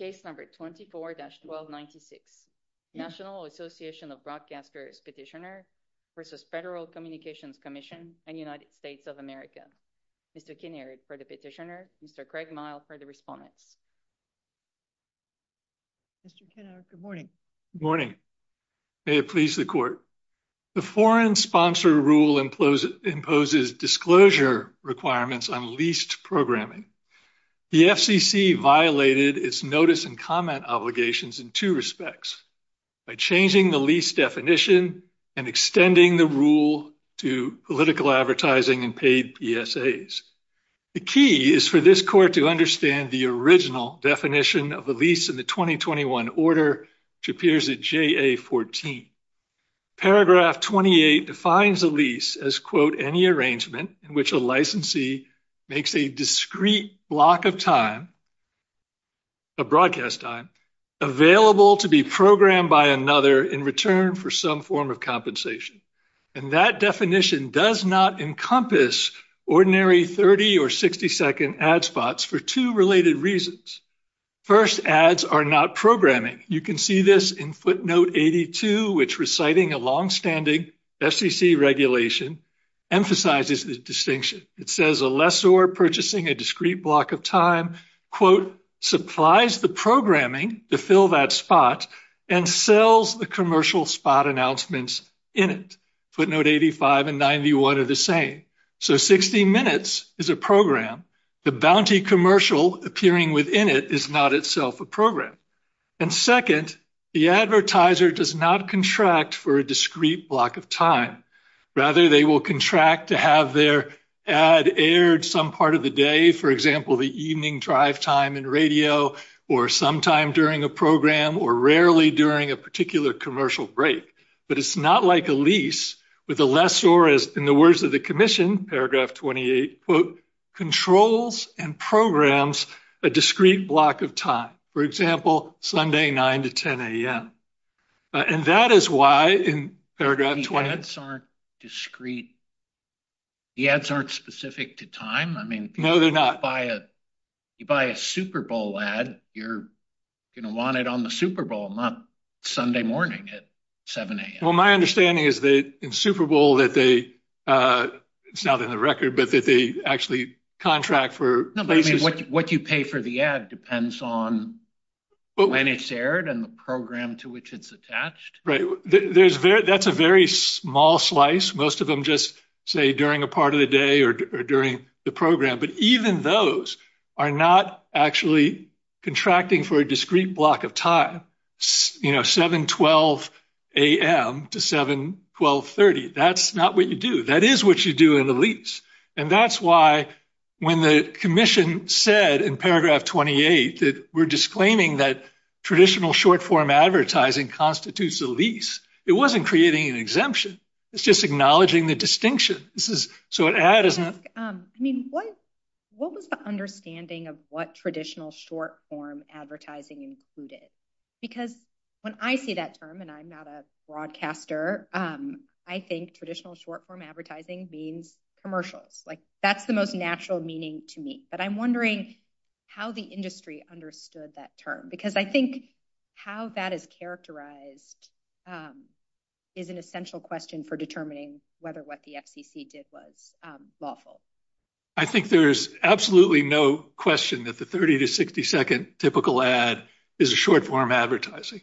24-1296, National Association of Broadcasters Petitioner v. Federal Communications Commission and United States of America. Mr. Kinnaird for the petitioner, Mr. Craig Myle for the respondents. Mr. Kinnaird, good morning. Good morning. May it please the Court. The foreign sponsor rule imposes disclosure requirements on leased programming. The FCC violated its notice and comment obligations in two respects, by changing the lease definition and extending the rule to political advertising and paid PSAs. The key is for this Court to understand the original definition of a lease in the 2021 order, which appears at JA 14. Paragraph 28 defines a lease as, quote, any arrangement in which a licensee makes a discrete block of time, a broadcast time, available to be programmed by another in return for some form of compensation. And that definition does not encompass ordinary 30- or 60-second ad spots for two related reasons. First, ads are not programming. You can see this in footnote 82, which reciting a longstanding FCC regulation emphasizes this distinction. It says a lessor purchasing a discrete block of time, quote, supplies the programming to fill that spot and sells the commercial spot announcements in it. Footnote 85 and 91 are the same. So 60 minutes is a program. The bounty commercial appearing within it is not itself a program. And second, the advertiser does not contract for a discrete block of time. Rather, they will contract to have their ad aired some part of the day, for example, the evening drive time and radio or sometime during a program or rarely during a particular commercial break. But it's not like a lease with a lessor, as in the words of the Commission, paragraph 28, quote, controls and programs a discrete block of time, for example, Sunday 9 to 10 a.m. And that is why in paragraph 20... The ads aren't discrete. The ads aren't specific to time. I mean... No, they're not. You buy a Super Bowl ad, you're going to want it on the Super Bowl, not Sunday morning at 7 a.m. Well, my understanding is that in Super Bowl that they, it's not in the record, but that they actually contract for... No, but what you pay for the ad depends on when it's aired and the program to which it's attached. Right. That's a very small slice. Most of them just say during a part of the day or during the program. But even those are not actually contracting for a discrete block of time, you know, 7, 12 a.m. to 7, 12, 30. That's not what you do. That is what you do in the lease. And that's why when the Commission said in paragraph 28 that we're disclaiming that traditional short-form advertising constitutes a lease, it wasn't creating an exemption. It's just acknowledging the distinction. So an ad is not... I mean, what was the understanding of what traditional short-form advertising included? Because when I see that term, and I'm not a broadcaster, I think traditional short-form advertising means commercials. Like, that's the most natural meaning to me. But I'm wondering how the industry understood that term. Because I think how that is characterized is an essential question for determining whether what the FCC did was lawful. I think there's absolutely no question that the 30 to 60 second typical ad is a short-form advertising.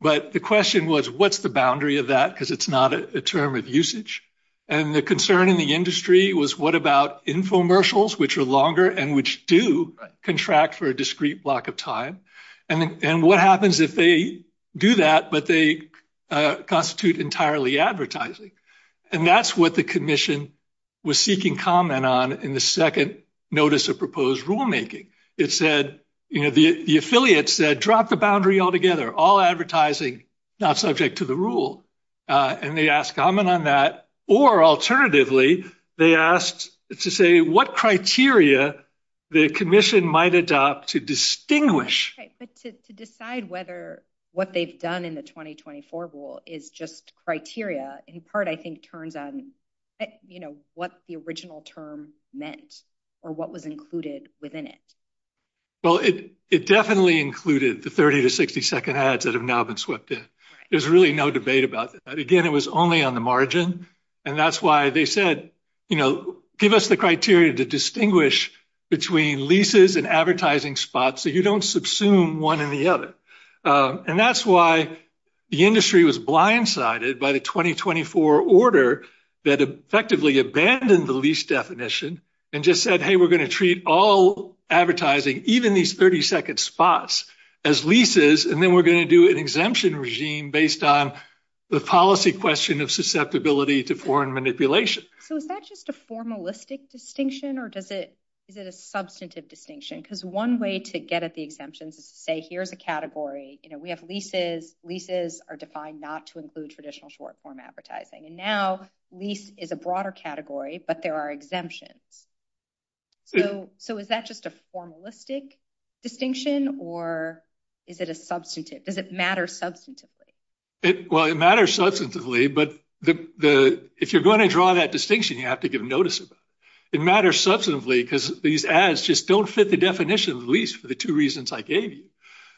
But the question was, what's the boundary of that? Because it's not a term of usage. And the concern in the was, what about infomercials, which are longer and which do contract for a discrete block of time? And what happens if they do that, but they constitute entirely advertising? And that's what the Commission was seeking comment on in the second notice of proposed rulemaking. It said, you know, the affiliate said, drop the boundary altogether. All advertising, not subject to the rule. And they asked comment on that. Or alternatively, they asked to say what criteria the Commission might adopt to distinguish. Right. But to decide whether what they've done in the 2024 rule is just criteria, in part, I think turns on, you know, what the original term meant, or what was included within it. Well, it definitely included the 30 to 60 second ads that have now been swept in. There's really no debate about that. Again, it was only on the margin. And that's why they said, you know, give us the criteria to distinguish between leases and advertising spots so you don't subsume one in the other. And that's why the industry was blindsided by the 2024 order that effectively abandoned the lease definition and just said, hey, we're going to treat all advertising, even these 30 second spots, as leases. And then we're going to do an exemption regime based on the policy question of susceptibility to foreign manipulation. So is that just a formalistic distinction? Or does it? Is it a substantive distinction? Because one way to get at the exemptions is to say, here's a category, you know, we have leases, leases are defined not to include traditional short form advertising. And now lease is a broader category, but there are exemptions. So is that just a formalistic distinction? Or is it a substantive? Does it matter substantively? Well, it matters substantively. But if you're going to draw that distinction, you have to give notice. It matters substantively because these ads just don't fit the definition of lease for the two reasons I gave you.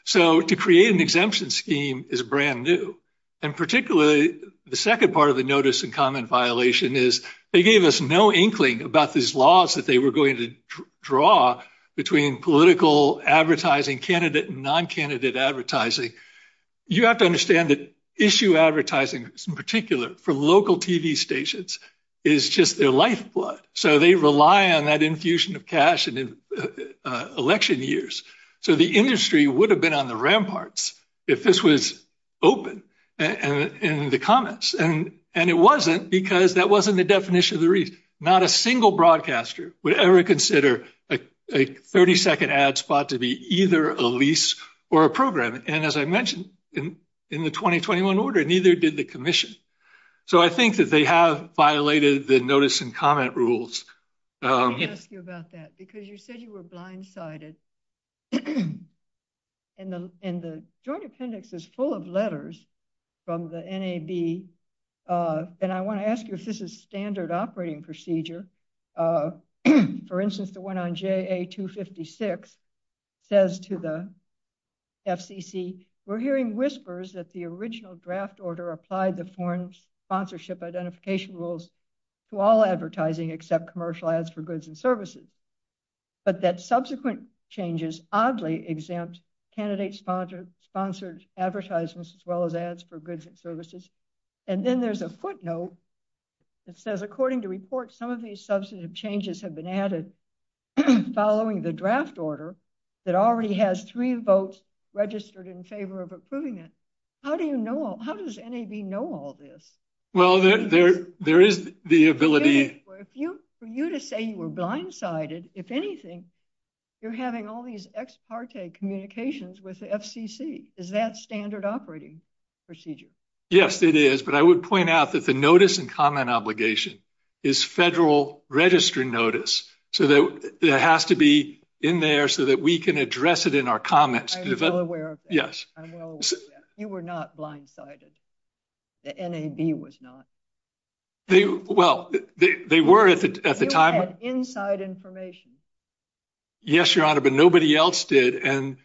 So to create an exemption scheme is brand new. And particularly, the second part of the notice and comment violation is they gave us no inkling about these laws that they were going to draw between political advertising candidate and non-candidate advertising. You have to understand that issue advertising, in particular for local TV stations, is just their lifeblood. So they rely on that infusion of cash in election years. So the industry would have been on the ramparts if this was open in the comments. And it wasn't because that wasn't the definition of the reason. Not a single broadcaster would ever consider a 30-second ad spot to be either a lease or a program. And as I mentioned, in the 2021 order, neither did the commission. So I think that they have violated the notice and comment rules. Let me ask you about that because you said you were blindsided. And the joint appendix is full of letters from the NAB. And I want to ask you if this is standard operating procedure. For instance, the one on JA-256 says to the FCC, we're hearing whispers that the original draft order applied the foreign sponsorship identification rules to all advertising except commercial ads for goods and services. But that subsequent changes oddly exempt candidate sponsored advertisements as well as ads for goods and services. And then there's a footnote that says, according to reports, some of these substantive changes have been added following the draft order that already has three votes registered in favor of approving it. How do you know? How does NAB know all this? Well, there is the ability. For you to say you were blindsided, if anything, you're having all these ex parte communications with the FCC. Is that standard operating procedure? Yes, it is. But I would point out that the notice and comment obligation is federal registry notice. So that has to be in there so that we can address it in our comments. I'm well aware of that. You were not blindsided. The NAB was not. Well, they were at the time. You had inside information. Yes, Your Honor, but nobody else did. You're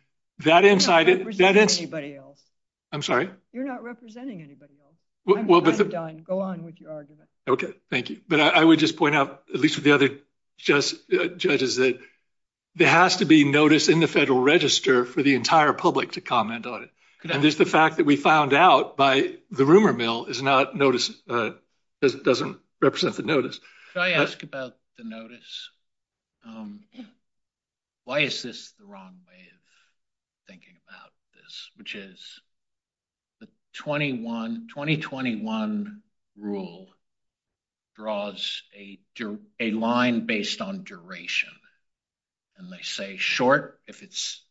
not representing anybody else. I'm sorry? You're not representing anybody else. I'm done. Go on with your argument. Okay, thank you. But I would just point out, at least with the other judges, that there has to be notice in the federal register for the entire public to comment on it. And just the fact that we found out by the rumor mill doesn't represent the notice. Can I ask about the notice? Why is this the wrong way of thinking about this? Which is the 2021 rule draws a line based on duration. And they say short, if it's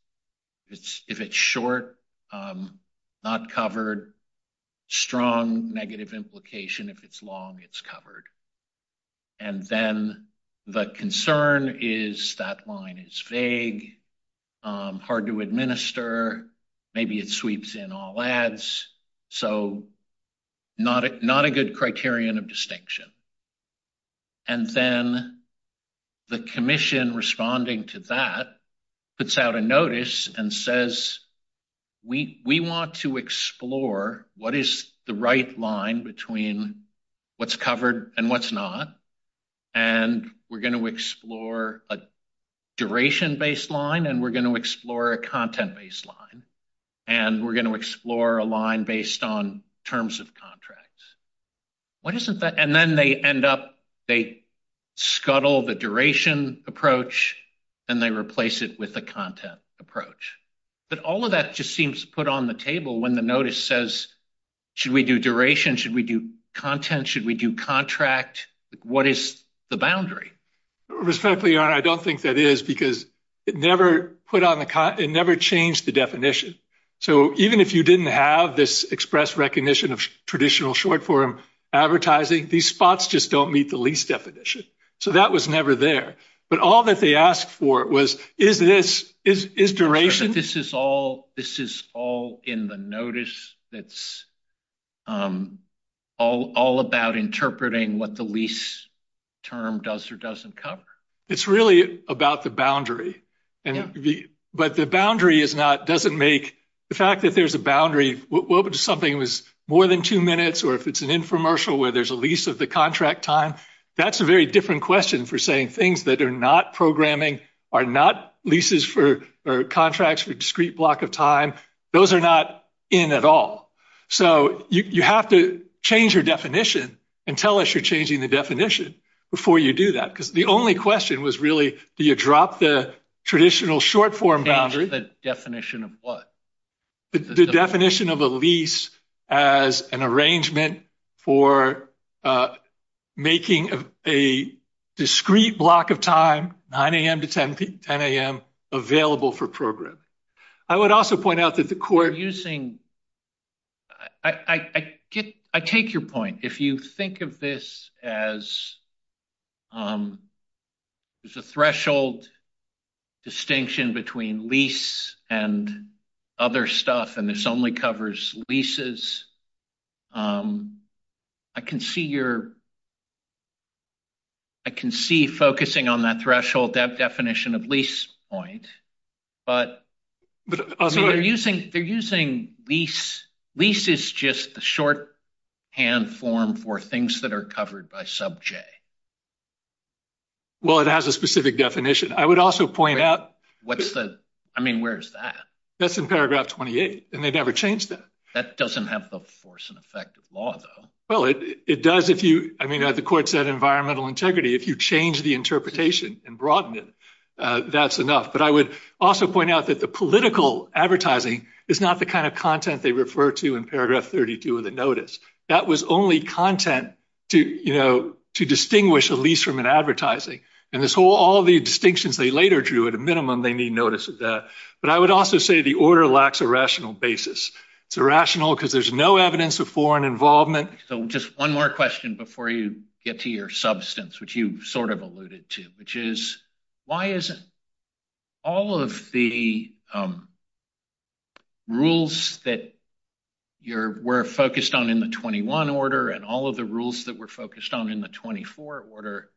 short, not covered, strong, negative implication, if it's long, it's covered. And then the concern is that line is vague, hard to administer, maybe it sweeps in all ads. So not a good criterion of distinction. And then the commission responding to that puts out a notice and says, we want to explore what is the right line between what's covered and what's not. And we're going to explore a duration-based line, and we're going to explore a content-based line. And we're going to explore a line based on they scuttle the duration approach, and they replace it with the content approach. But all of that just seems to put on the table when the notice says, should we do duration? Should we do content? Should we do contract? What is the boundary? Respectfully, your honor, I don't think that is because it never changed the definition. So even if you didn't have this express recognition of traditional short-form advertising, these spots just don't meet the lease definition. So that was never there. But all that they asked for was, is this, is duration? This is all in the notice that's all about interpreting what the lease term does or doesn't cover. It's really about the boundary. But the boundary doesn't make, the fact that there's a boundary, what would something was more than two minutes, or if it's an infomercial where there's a lease of the contract time, that's a very different question for saying things that are not programming, are not leases for contracts for discrete block of time. Those are not in at all. So you have to change your definition and tell us you're changing the definition before you do that. Because the only question was really, do you drop the traditional short-form boundary? The definition of what? The definition of a lease as an arrangement for making a discrete block of time, 9 a.m. to 10 a.m., available for programming. I would also point out that the court... I take your point. If you think of this as, there's a threshold distinction between lease and other stuff, and this only covers leases, I can see you're... I can see focusing on that threshold definition of lease point, but they're using they're using lease. Lease is just the shorthand form for things that are covered by sub-J. Well, it has a specific definition. I would also point out... Wait, what's the... I mean, where's that? That's in paragraph 28, and they never changed that. That doesn't have the force and effect of law, though. Well, it does if you... I mean, the court said environmental integrity. If you change the interpretation and broaden it, that's enough. But I would also point out that the political advertising is not the kind of content they refer to in paragraph 32 of the notice. That was only content to distinguish a lease from an advertising. And all the distinctions they later drew, at a minimum, they need notice of that. But I would also say the order lacks a rational basis. It's irrational because there's no evidence of foreign involvement. So, just one more question before you get to your substance, which you sort of alluded to, which is, why is it all of the rules that we're focused on in the 21 order and all of the rules that we're focused on in the 24 order,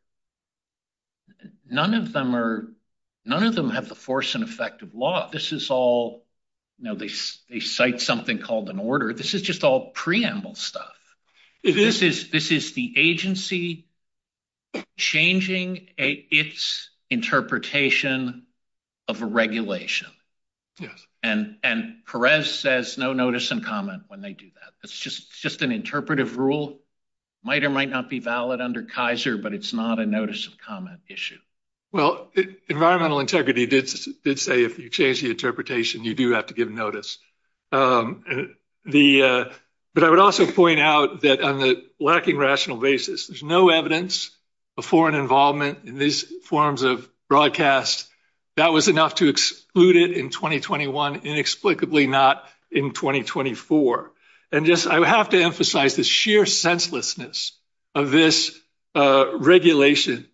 none of them have the force and effect of law. This is all, you know, they cite something called an order. This is just all preamble stuff. This is the agency changing its interpretation of a regulation. And Perez says no notice and comment when they do that. It's just an interpretive rule. Might or might not be valid under Kaiser, but it's not a notice of comment issue. Well, environmental integrity did say if you change the interpretation, you do have to give notice. But I would also point out that on the lacking rational basis, there's no evidence of foreign involvement in these forms of broadcast. That was enough to exclude it in 2021, inexplicably not in 2024. And just, I have to emphasize the sheer senselessness of this regulation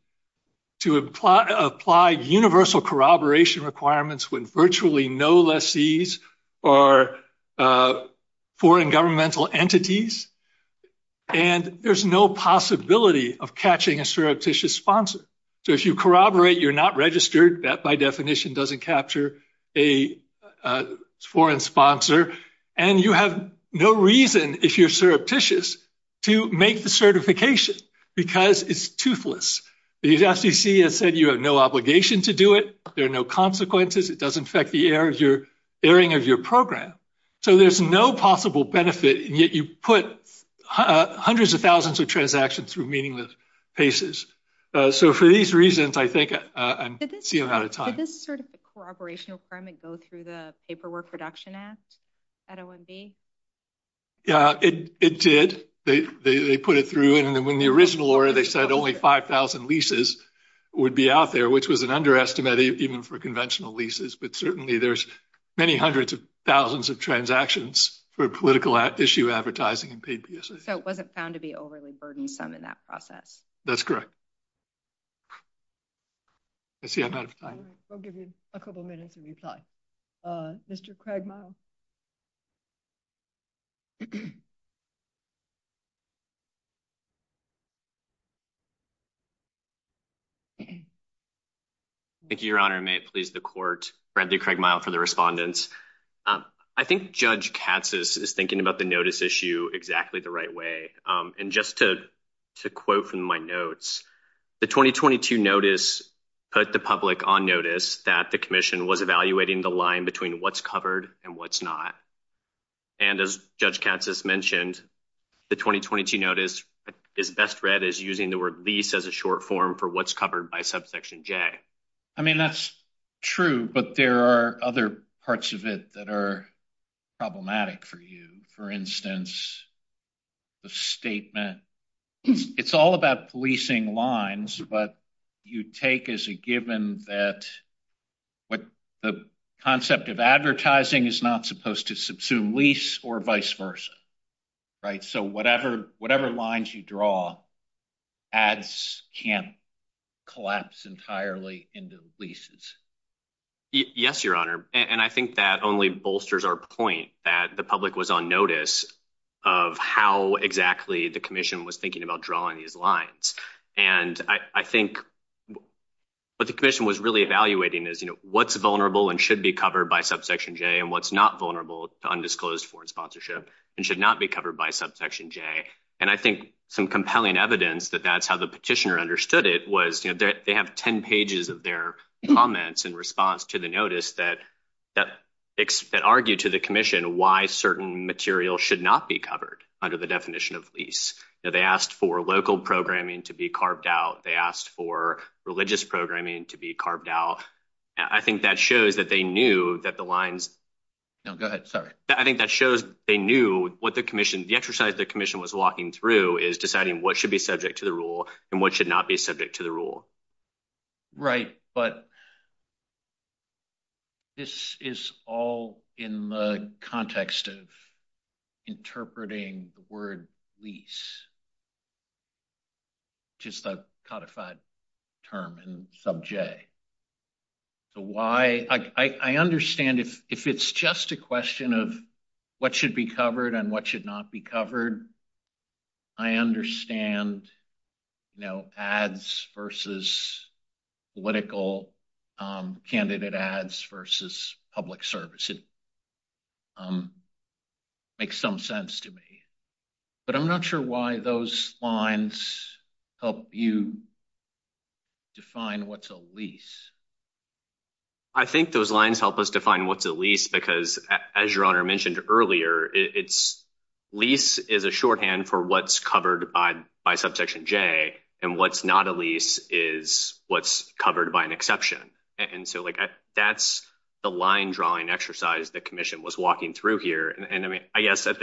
to apply universal corroboration requirements when virtually no lessees are foreign governmental entities. And there's no possibility of catching a surreptitious sponsor. So if you corroborate, you're not registered. That, by definition, doesn't capture a foreign sponsor. And you have no reason, if you're surreptitious, to make the certification because it's toothless. The SDC has said you have no obligation to do it. There are no consequences. It does infect the airing of your program. So there's no possible benefit, and yet you put hundreds of thousands of transactions through meaningless paces. So for these reasons, I think I'm seeing out of time. Did this sort of corroborational permit go through the Paperwork Production Act at OMB? Yeah, it did. They put it through. And in the original order, they said only 5,000 leases would be out there, which was an underestimate even for conventional leases. But certainly, there's many hundreds of thousands of transactions for political issue advertising and paid PSAs. So it wasn't found to be overly burdensome in that process? That's correct. I see I'm out of time. We'll give you a couple minutes to reply. Mr. Cragmire? Thank you, Your Honor. And may it please the Court, Bradley Cragmire for the respondents. I think Judge Katsas is thinking about the notice issue exactly the right way. And just to quote from my notes, the 2022 notice put the public on notice that the Commission was evaluating the line between what's covered and what's not. And as Judge Katsas mentioned, the 2022 notice is best read as using the word lease as a short form for what's covered by Subsection J. I mean, that's true. But there are other parts of it that are problematic for you. For instance, the statement, it's all about policing lines. But you take as a given that what the concept of advertising is not supposed to subsume lease or vice versa, right? So whatever lines you draw, ads can't collapse entirely into leases. Yes, Your Honor. And I think that only bolsters our point that the public was on notice of how exactly the Commission was thinking about drawing these lines. And I think what the Commission was really evaluating is what's vulnerable and should be covered by Subsection J and what's not vulnerable to undisclosed foreign sponsorship and should not be covered by Subsection J. And I think some compelling evidence that that's how the petitioner understood it was they have 10 pages of their comments in response to the notice that argued to the Commission why certain material should not be covered under the definition of lease. They asked for local programming to be carved out. They asked for religious programming to be carved out. I think that shows that they knew that the lines... No, go ahead. Sorry. I think that shows they knew what the Commission, the exercise the Commission was walking through is deciding what should be subject to the rule and what should not be subject to the rule. Right. But this is all in the context of interpreting the word lease, which is the codified term in Subject. I understand if it's just a question of what should be covered and what should not be covered, I understand ads versus political candidate ads versus public service. It makes some sense to me. But I'm not sure why those lines help you define what's a lease. I think those lines help us define what's a lease because as your Honor mentioned earlier, lease is a shorthand for what's covered by Subsection J and what's not a lease is what's covered by an exception. And so that's the line drawing exercise the Commission was walking through here. And I guess at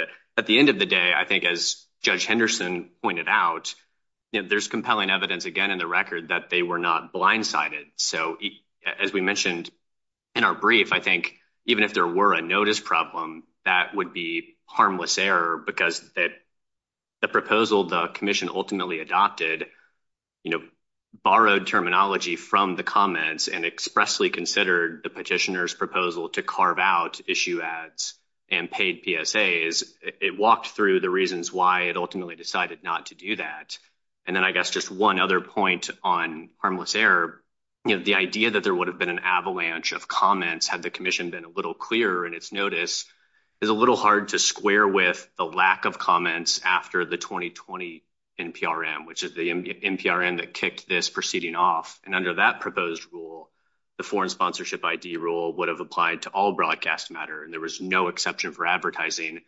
the end of the day, I think as Judge Henderson pointed out, there's compelling evidence again in the record that they were not blindsided. So as we mentioned in our brief, I think even if there were a notice problem, that would be harmless error because the proposal the Commission ultimately adopted, borrowed terminology from the comments and expressly considered the petitioner's proposal to carve out issue ads and paid PSAs. It walked through the reasons why it ultimately decided not to do that. And then I guess just one other point on harmless error, the idea that there would have been an avalanche of comments had the Commission been a little clearer in its notice is a little hard to square with the lack of comments after the 2020 NPRM, which is the NPRM that kicked this off. And under that proposed rule, the foreign sponsorship ID rule would have applied to all broadcast matter. And there was no exception for advertising.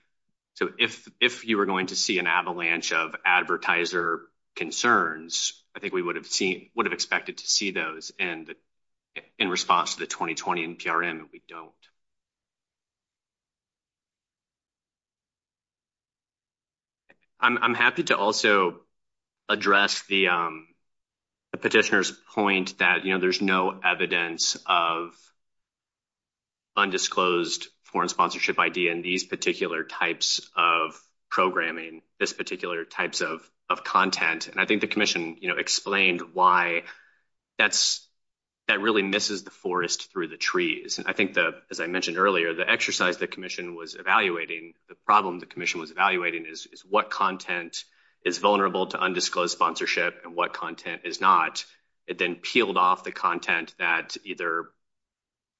So if you were going to see an avalanche of advertiser concerns, I think we would have seen, would have expected to see those. And in response to the 2020 NPRM, we don't. I'm happy to also address the petitioner's point that, you know, there's no evidence of undisclosed foreign sponsorship ID in these particular types of programming, this particular types of content. And I think the Commission, you know, explained why that really misses the forest through the trees. And I think that, as I mentioned earlier, the exercise the Commission was evaluating, the problem the Commission was evaluating is what content is vulnerable to undisclosed sponsorship and what content is not. It then peeled off the content that either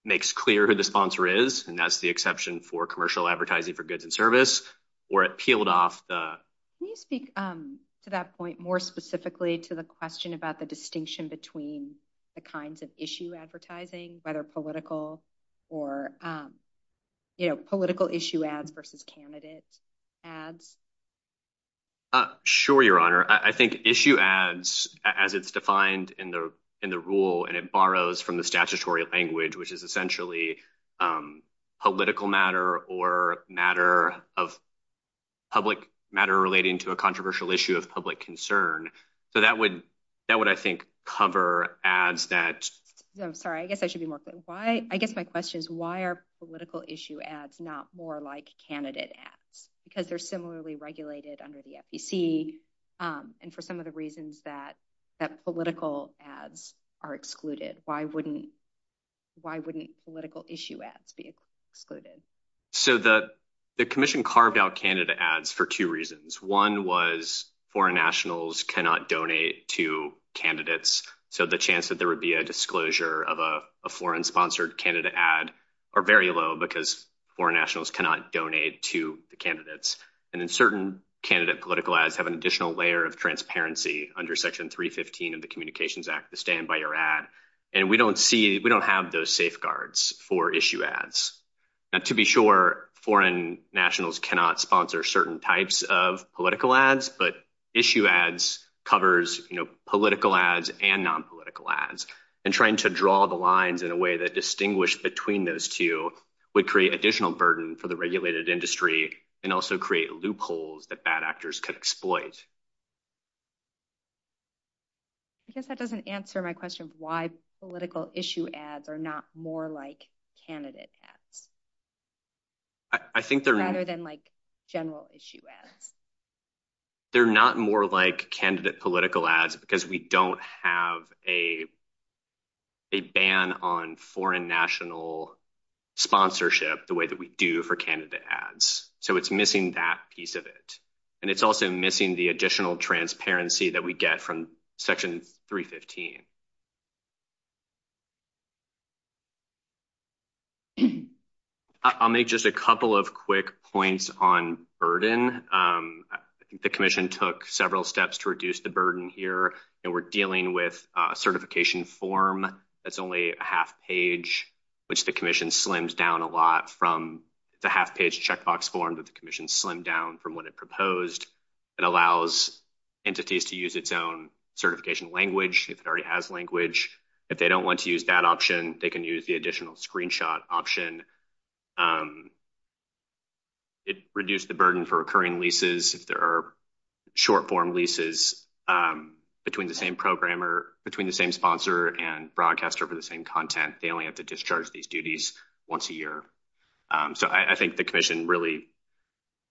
makes clear who the sponsor is, and that's the exception for commercial advertising for goods and service, or it peeled off the... Can you speak to that point more specifically to the question about the distinction between the kinds of issue advertising, whether political or, you know, political issue ads versus candidate ads? Sure, Your Honor. I think issue ads, as it's defined in the rule, and it borrows from the statutory language, which is essentially political matter or matter of public matter relating to a controversial issue of public concern. So that would, I think, cover ads that... I'm sorry, I guess I should be more clear. I guess my question is, why are political issue ads not more like candidate ads? Because they're similarly regulated under the FEC, and for some of the reasons that political ads are excluded, why wouldn't political issue ads be excluded? So the Commission carved out candidate ads for two reasons. One was foreign nationals cannot donate to candidates, so the chance that there would be a disclosure of a foreign-sponsored candidate ad are very low because foreign nationals cannot donate to the candidates. And then certain candidate political ads have an additional layer of transparency under Section 315 of the Communications Act to stand by your ad, and we don't see... We don't have those safeguards for issue ads. Now, to be sure, foreign nationals cannot sponsor certain types of political ads, but issue ads covers political ads and non-political ads, and trying to draw the lines in a way that distinguish between those two would create additional burden for the regulated industry and also create loopholes that bad actors could exploit. I guess that doesn't answer my question of why political issue ads are not more like candidate ads rather than like general issue ads. They're not more like candidate political ads because we don't have a ban on foreign national sponsorship the way that we do for candidate ads, so it's missing that piece of it, and it's also missing the additional transparency that we get from Section 315. I'll make just a couple of quick points on burden. The Commission took several steps to reduce the burden here, and we're dealing with a certification form that's only a half page, which the Commission slims down a lot from the half-page checkbox form that the Commission slimmed down from when it proposed. It allows entities to use its own certification language if it already has language. If they don't want to use that option, they can use the screenshot option. It reduced the burden for recurring leases. If there are short-form leases between the same sponsor and broadcaster for the same content, they only have to discharge these duties once a year. So I think the Commission really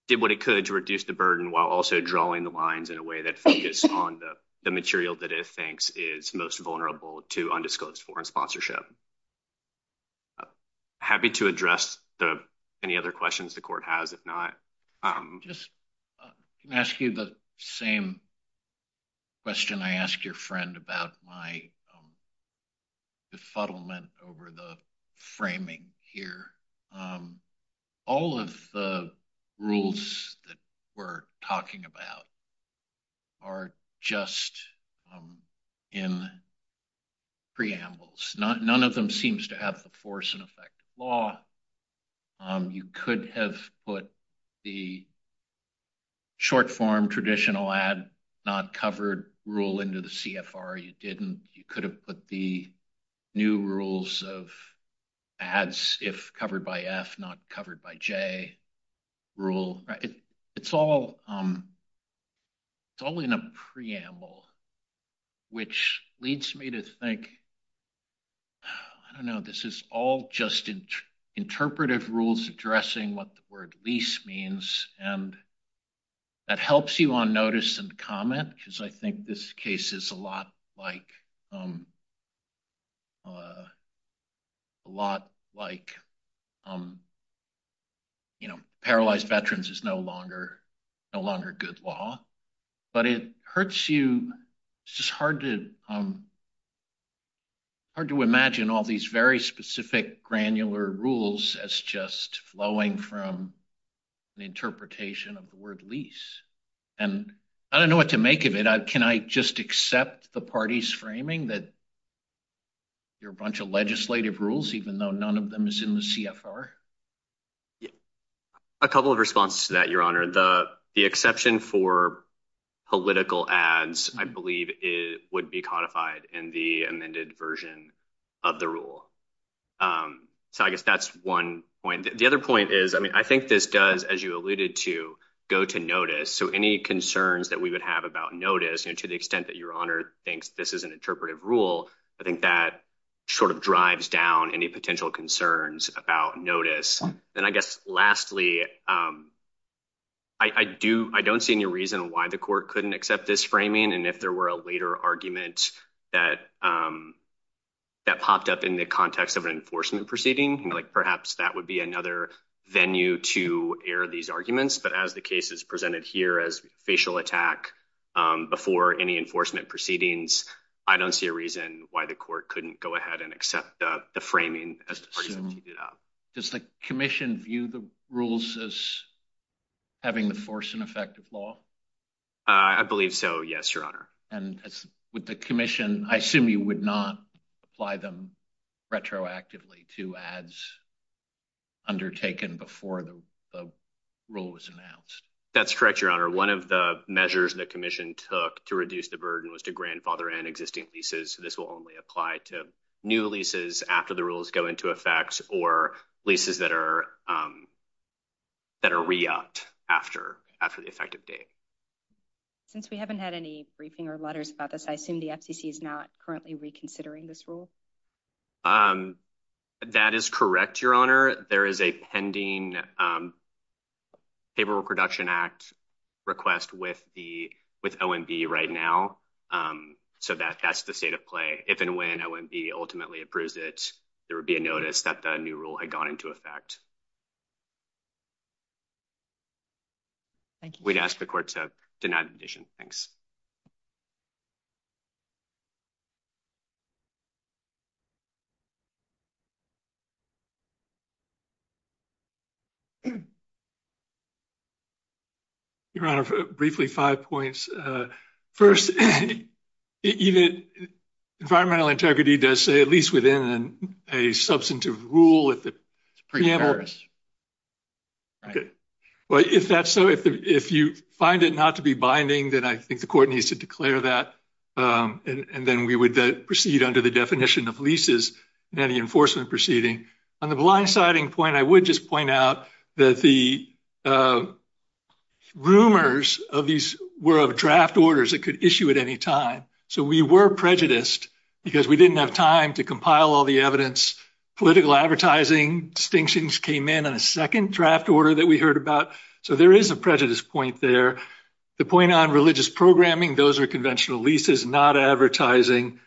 did what it could to reduce the burden while also drawing the lines in a way that focused on the material that it thinks is most vulnerable to undisclosed foreign sponsorship. Happy to address any other questions the Court has, if not... I can ask you the same question I asked your friend about my befuddlement over the framing here. All of the rules that we're talking about are just in preambles. None of them seems to have the force and effect of law. You could have put the short-form traditional ad not covered rule into the CFR. You didn't. You could have put the new rules of ads if covered by F not covered by J rule. It's all in a preamble, which leads me to think, I don't know, this is all just interpretive rules addressing what the that helps you on notice and comment, because I think this case is a lot like a lot like, you know, paralyzed veterans is no longer a good law, but it hurts you. It's just hard to imagine all these very specific granular rules as just flowing from an interpretation of the word lease, and I don't know what to make of it. Can I just accept the party's framing that you're a bunch of legislative rules even though none of them is in the CFR? A couple of responses to that, Your Honor. The exception for political ads, I believe, it would be codified in the amended version of the rule, so I guess that's one point. The other is, I mean, I think this does, as you alluded to, go to notice, so any concerns that we would have about notice, you know, to the extent that Your Honor thinks this is an interpretive rule, I think that sort of drives down any potential concerns about notice. Then I guess lastly, I don't see any reason why the court couldn't accept this framing, and if there were a later argument that popped up in the context of an enforcement proceeding, like perhaps that would be another venue to air these arguments, but as the case is presented here as facial attack before any enforcement proceedings, I don't see a reason why the court couldn't go ahead and accept the framing as the parties have teed it up. Does the commission view the rules as having the force and effect of law? I believe so, yes, Your Honor. And with the commission, I assume you would not apply them retroactively to ads undertaken before the rule was announced? That's correct, Your Honor. One of the measures the commission took to reduce the burden was to grandfather and existing leases, so this will only apply to new leases after the rules go into effect or leases that are re-opt after the effective date. Since we haven't had any letters about this, I assume the FCC is not currently reconsidering this rule? That is correct, Your Honor. There is a pending Paperwork Reduction Act request with OMB right now, so that's the state of play. If and when OMB ultimately approves it, there would be a notice that the new rule had gone into effect. Thank you. We'd ask the court to deny the condition. Thanks. Your Honor, briefly, five points. First, environmental integrity does say, at least within a substantive rule, if you find it not to be binding, then I think the court needs to declare that, and then we would proceed under the definition of leases in any enforcement proceeding. On the blindsiding point, I would just point out that the rumors of these were of draft orders that could issue at any time, so we were prejudiced because we didn't have time to compile all the evidence. Political advertising distinctions came in on a second draft order that we heard about, so there is a prejudice point there. The point on religious programming, those are conventional leases, not advertising.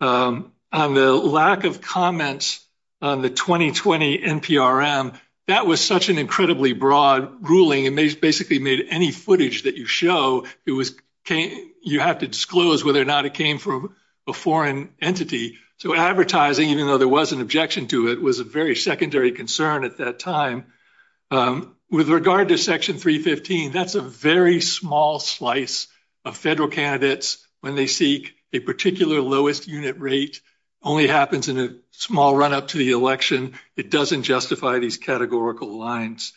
On the lack of comments on the 2020 NPRM, that was such an incredibly broad ruling. It basically made any footage that you show, you have to disclose whether or not it came from a foreign entity, so advertising, even though there was an objection to it, was a very secondary concern at that time. With regard to Section 315, that's a very small slice of federal candidates when they seek a particular lowest unit rate. Only happens in a small run-up to the election. It doesn't justify these categorical lines.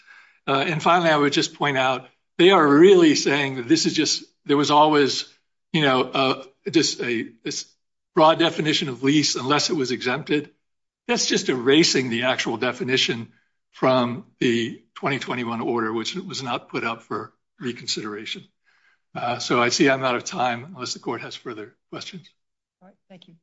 Finally, I would just point out, they are really saying that there was always this broad definition of lease unless it was exempted. That's just erasing the actual definition from the 2021 order, which was not put up for reconsideration. I see I'm out of time, unless the court has further questions. All right, thank you.